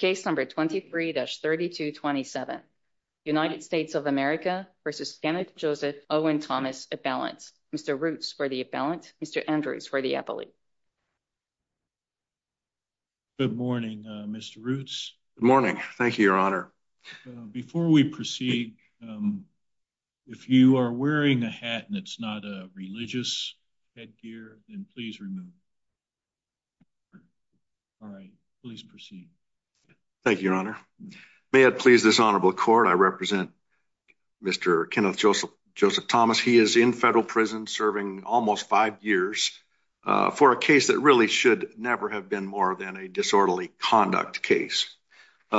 23-3227. United States of America v. Kenneth Joseph Owen Thomas, Appellant. Mr. Roots for the Appellant. Mr. Andrews for the Appellant. Good morning, Mr. Roots. Good morning. Thank you, Your Honor. Before we proceed, if you are wearing a hat and it's not a religious headgear, then please remove. All right, please proceed. Thank you, Your Honor. May it please this Honorable Court, I represent Mr. Kenneth Joseph Thomas. He is in federal prison serving almost five years for a case that really should never have been more than a disorderly conduct case.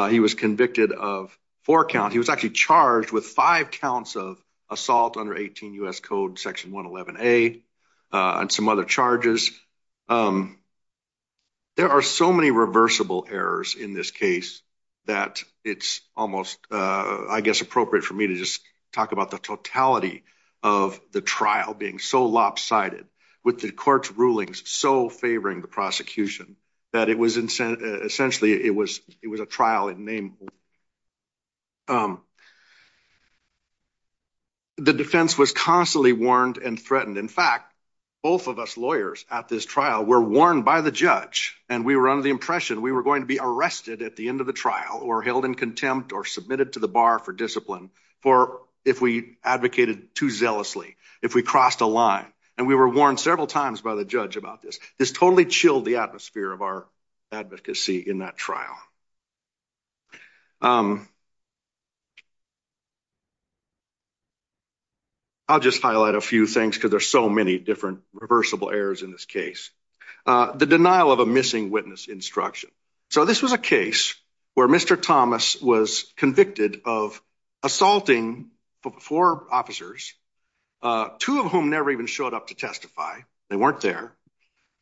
He was convicted of four counts. He was actually charged with five counts of assault under 18 U.S. Code Section 111A and some other charges. There are so many reversible errors in this case that it's almost, I guess, appropriate for me to just talk about the totality of the trial being so lopsided with the court's rulings so favoring the prosecution that it was, essentially, it was a trial in name only. The defense was constantly warned and threatened. In fact, both of us lawyers at this trial were warned by the judge and we were under the impression we were going to be arrested at the end of the trial or held in contempt or submitted to the bar for discipline for if we advocated too zealously, if we crossed a line. And we were warned several times by the judge about this. This totally chilled the atmosphere of our advocacy in that trial. I'll just highlight a few things because there's so many different reversible errors in this case. The denial of a missing witness instruction. So this was a case where Mr. Thomas was convicted of assaulting four officers, two of whom never even showed up to testify. They weren't there.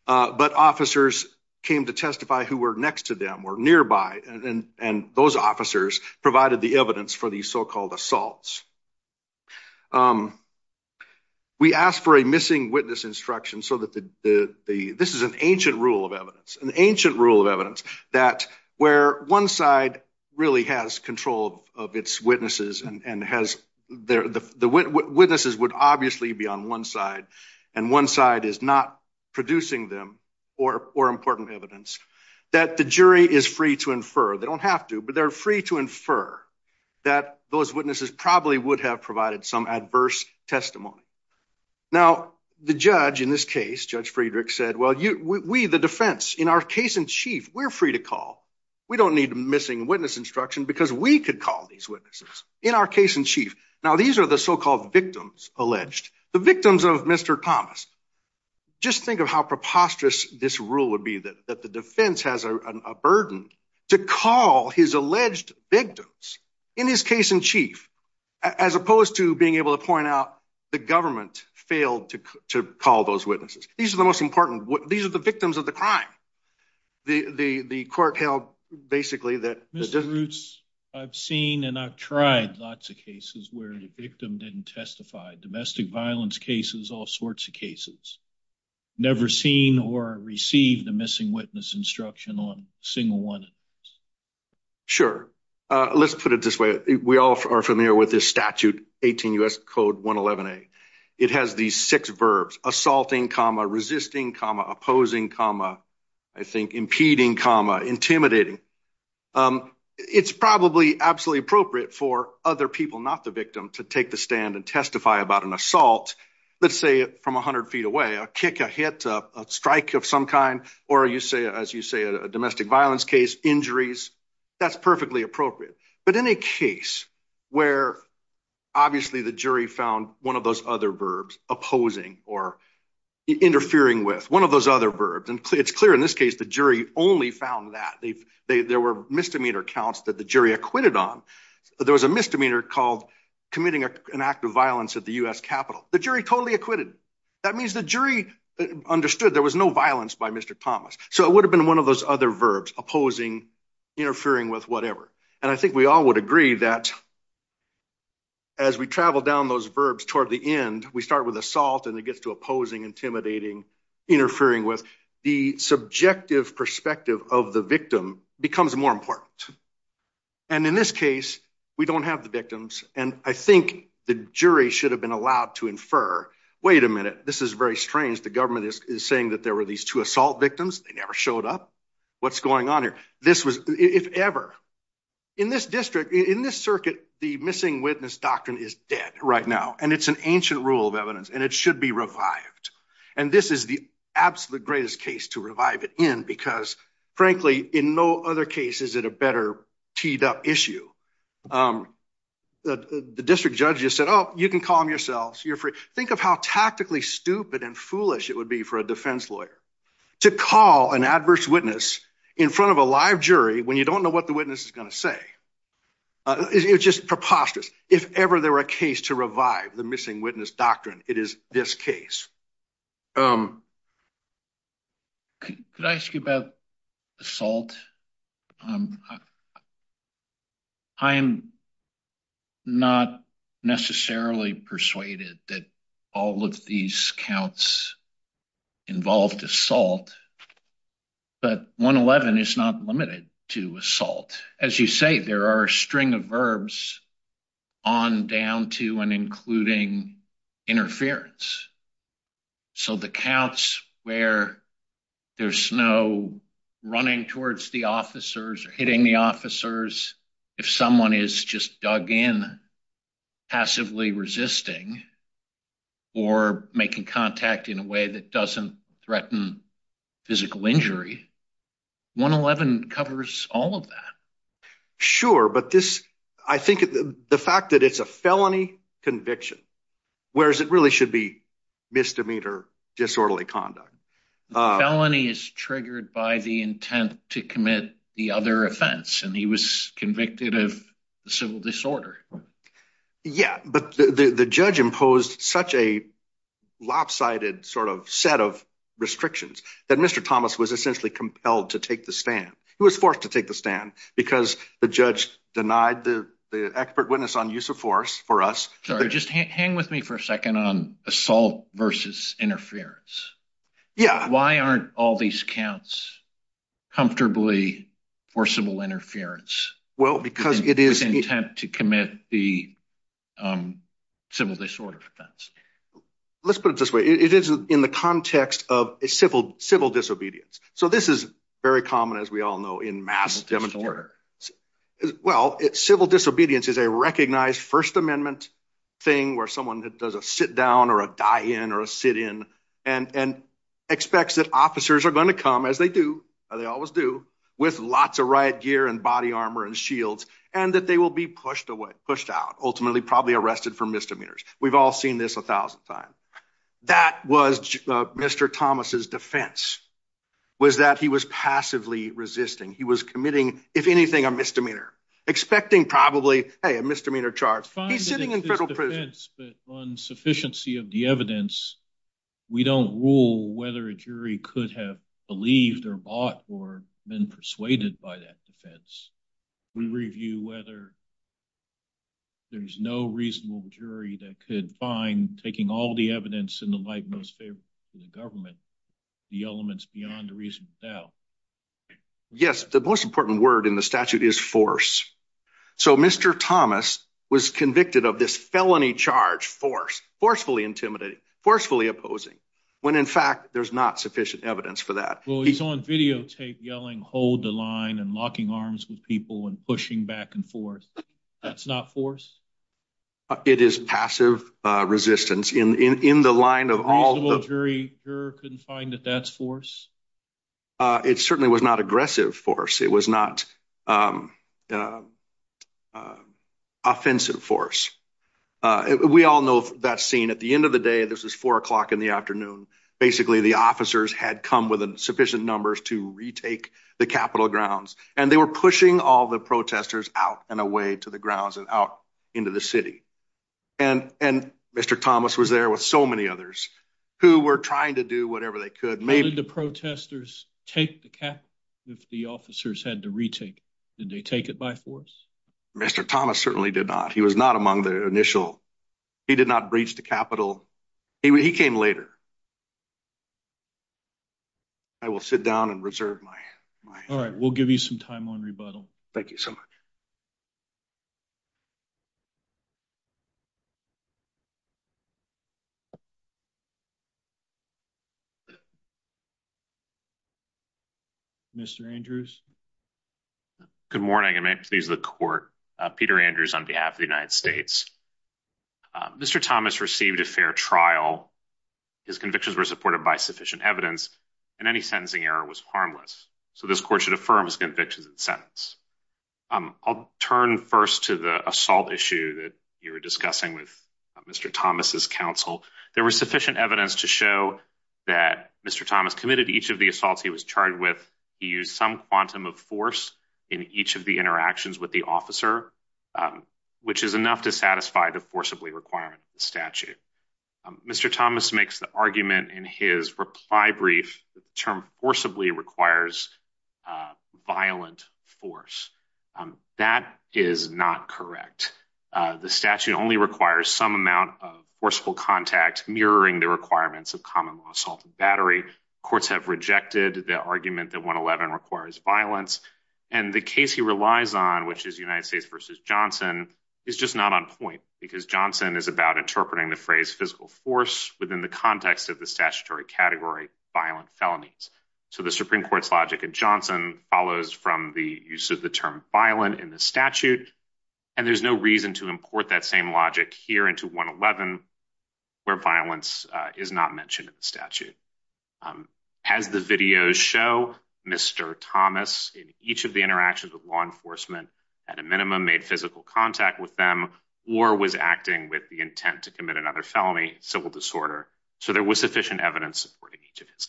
But officers came to testify who were next to them or nearby and those officers provided the evidence for these so-called assaults. We asked for a missing witness instruction so that the, this is an ancient rule of evidence, an ancient rule of evidence that where one side really has control of its witnesses and has, the witnesses would obviously be on one side, and one side is not producing them or important evidence that the jury is free to infer. They don't have to, but they're free to infer that those witnesses probably would have provided some adverse testimony. Now, the judge in this case, Judge Friedrich said, well, you, we, the defense in our case in chief, we're free to call. We don't need missing witness instruction because we could call these witnesses in our case in chief. Now, these are the so-called victims alleged, the victims of Mr. Thomas. Just think of how preposterous this rule would be that the defense has a burden to call his alleged victims in his case in chief, as opposed to being able to point out the government failed to call those witnesses. These are the most important, these are the victims of the crime. The court held basically that- I've seen and I've tried lots of cases where the victim didn't testify, domestic violence cases, all sorts of cases. Never seen or received a missing witness instruction on a single one. Sure. Let's put it this way. We all are familiar with this statute, 18 U.S. Code 111A. It has these six verbs, assaulting, resisting, opposing, I think, impeding, intimidating. It's probably absolutely appropriate for other people, not the victim, to take the stand and testify about an assault, let's say from 100 feet away, a kick, a hit, a strike of some kind, or you say, as you say, a domestic violence case, injuries, that's perfectly appropriate. But in a case where obviously the jury found one of those other verbs, opposing or interfering with, one of those other verbs, and it's clear in this case the jury only found that. There were misdemeanor counts that the jury acquitted on. There was a misdemeanor called committing an act of violence at the U.S. Capitol. The jury totally acquitted. That means the jury understood there was no violence by Mr. Thomas. So it would have been one of those other verbs, opposing, interfering with, whatever. And I think we all would agree that as we travel down those verbs toward the end, we start with assault and it gets to opposing, intimidating, interfering with, the subjective perspective of the victim becomes more important. And in this case, we don't have the victims, and I think the jury should have been allowed to infer, wait a minute, this is very strange. The government is saying that there were these two assault victims. They never showed up. What's going on here? This was, if ever, in this district, in this circuit, the missing witness doctrine is dead right now, and it's an ancient rule of evidence, and it should be revived. And this is the absolute greatest case to revive it in because, frankly, in no other case is it a better teed up issue. The district judge just said, oh, you can call them yourselves. Think of how tactically stupid and foolish it would be for a defense lawyer to call an adverse witness in front of a live jury when you don't know what the witness is going to say. It's just preposterous. If ever there were a case to revive the missing witness doctrine, it is this case. Could I ask you about assault? I'm not necessarily persuaded that all of these counts involved assault, but 111 is not limited to assault. As you say, there are a string of verbs on down to and including interference. So the counts where there's no running towards the officers or hitting the officers, if someone is just dug in, passively resisting, or making contact in a way that doesn't threaten physical injury, 111 covers all of that. Sure, but I think the fact that it's a felony conviction, whereas it really should be misdemeanor disorderly conduct. The felony is triggered by the intent to commit the other offense, and he was convicted of the civil disorder. Yeah, but the judge imposed such a lopsided set of restrictions that Mr. Thomas was essentially compelled to take the stand. He was forced to take the stand because the judge denied the expert witness on use of force for us. Sorry, just hang with me for a second on assault versus interference. Why aren't all these counts comfortably forcible interference? Well, because it is intent to commit the civil disorder offense. Let's put it this way. It is in the context of a civil disobedience. So this is very common, as we all know, in mass. Well, civil disobedience is a recognized First Amendment thing where someone does a sit down or a die in or a sit in and expects that officers are going to come, as they do, they always do, with lots of riot gear and body armor and shields, and that they will be pushed away, pushed out, ultimately probably arrested for misdemeanors. We've all seen this a thousand times. That was Mr. Thomas's defense, was that he was passively resisting. He was committing, if anything, a misdemeanor, expecting probably, hey, a misdemeanor charge. He's sitting in federal prison. But on sufficiency of the evidence, we don't rule whether a jury could have believed or bought or been persuaded by that defense. We review whether there's no reasonable jury that could find, taking all the evidence and the like most favorable to the government, the elements beyond a reasonable doubt. Yes, the most important word in the statute is force. So Mr. Thomas was convicted of this felony charge, force, forcefully intimidating, forcefully opposing, when in fact there's not sufficient evidence for that. Well, he's on videotape yelling, hold the line and locking arms with people and pushing back and forth. That's not force? It is passive resistance in the line of all... A reasonable jury couldn't find that that's force? It certainly was not aggressive force. It was not offensive force. We all know that scene. At the end of the day, this was four o'clock in the afternoon. Basically, the officers had come with sufficient numbers to retake the Capitol grounds, and they were pushing all the protesters out and away to the grounds and out into the city. And Mr. Thomas was there with so many others who were trying to do whatever they could. Did the protesters take the Capitol if the officers had to retake it? Did they take it by force? Mr. Thomas certainly did not. He was not among the initial... He did not breach the Capitol. He came later. I will sit down and reserve my... All right, we'll give you some time on rebuttal. Thank you so much. Mr. Andrews? Good morning, and may it please the court. Peter Andrews on behalf of the United States. Mr. Thomas received a fair trial. His convictions were supported by sufficient evidence, and any sentencing error was harmless. So this court should affirm his convictions and sentence. I'll turn first to the assault issue that you were discussing with Mr. Thomas's counsel. There was sufficient evidence to show that Mr. Thomas committed each of the assaults he was charged with. He used some quantum of force in each of the interactions with the officer, which is enough to satisfy the forcibly requirement of the statute. Mr. Thomas makes the argument in his reply brief that the term forcibly requires violent force. That is not correct. The statute only requires some amount of forceful contact, mirroring the requirements of common law assault and battery. Courts have rejected the argument that 111 requires violence, and the case he relies on, which is United States v. Johnson, is just not on point because Johnson is about interpreting the phrase physical force within the context of the statutory category violent felonies. So the Supreme Court's logic in Johnson follows from the use of the term violent in the statute, and there's no reason to import that same logic here into 111 where violence is not mentioned in the statute. As the videos show, Mr. Thomas in each of the interactions with law enforcement at a minimum made physical contact with them or was acting with the intent to commit another felony, civil disorder, so there was sufficient evidence supporting each of his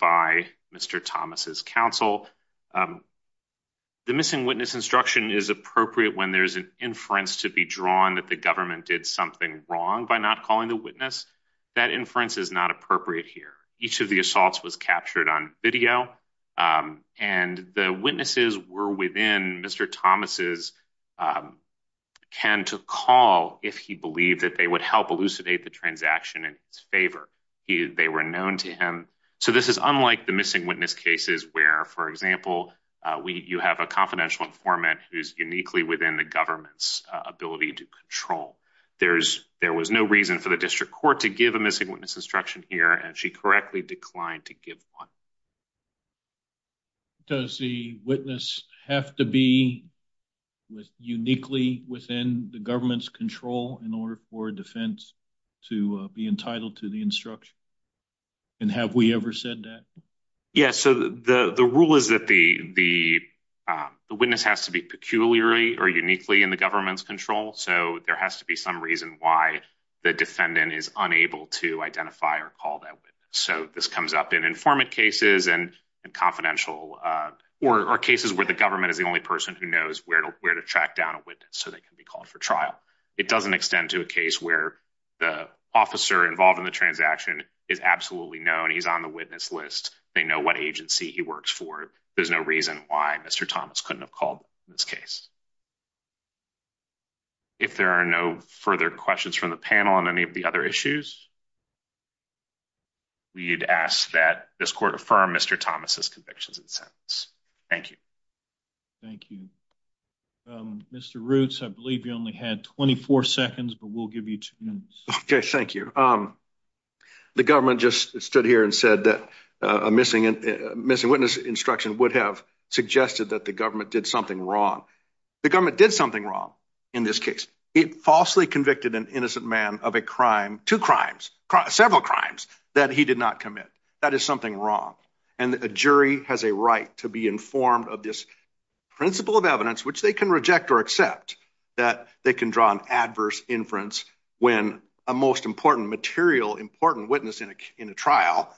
by Mr. Thomas' counsel. The missing witness instruction is appropriate when there's an inference to be drawn that the government did something wrong by not calling the witness. That inference is not appropriate here. Each of the assaults was captured on video, and the witnesses were within Mr. Thomas' can to call if he believed that they would help elucidate the transaction in his favor. They were known to him. So this is unlike the missing witness cases where, for example, you have a confidential informant who's uniquely within the government's ability to control. There was no reason for the district court to give a missing witness instruction here, and she correctly declined to give one. Does the witness have to be uniquely within the government's control in order for a defense to be entitled to the instruction, and have we ever said that? Yes, so the rule is that the witness has to be peculiarly or uniquely in the government's control, so there has to be some reason why the defendant is unable to identify or call that witness. So this comes up in informant cases and confidential or cases where the government is the only person who knows where to track down a witness so they can be trialed. It doesn't extend to a case where the officer involved in the transaction is absolutely known. He's on the witness list. They know what agency he works for. There's no reason why Mr. Thomas couldn't have called in this case. If there are no further questions from the panel on any of the other issues, we'd ask that this court affirm Mr. Thomas' convictions and sentence. Thank you. Thank you. Mr. Roots, I believe you only had 24 seconds, but we'll give you two minutes. Okay, thank you. The government just stood here and said that a missing witness instruction would have suggested that the government did something wrong. The government did something wrong in this case. It falsely convicted an innocent man of a crime, two crimes, several crimes that he did not commit. That is something wrong, and a jury has a right to be informed of this principle of evidence, which they can reject or accept, that they can draw an adverse inference when a most important material, important witness in a trial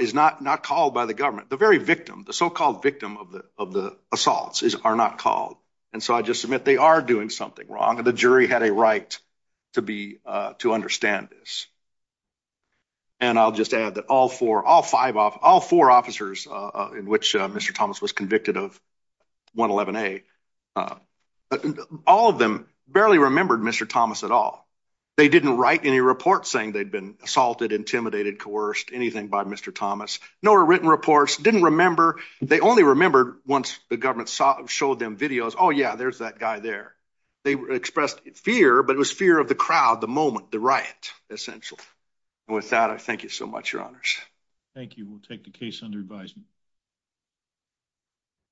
is not called by the government. The very victim, the so-called victim of the assaults are not called. And so I just submit they are doing something wrong, and the jury had a right to understand this. And I'll just add that all four officers in which Mr. Thomas was convicted of 111A, all of them barely remembered Mr. Thomas at all. They didn't write any reports saying they'd been assaulted, intimidated, coerced, anything by Mr. Thomas. No written reports, didn't remember. They only remembered once the government showed them videos, oh yeah, there's that guy there. They expressed fear, but it was fear of the crowd, the moment, the riot, essential. And with that, I thank you so much, Your Honors. Thank you. We'll take the case under advisement.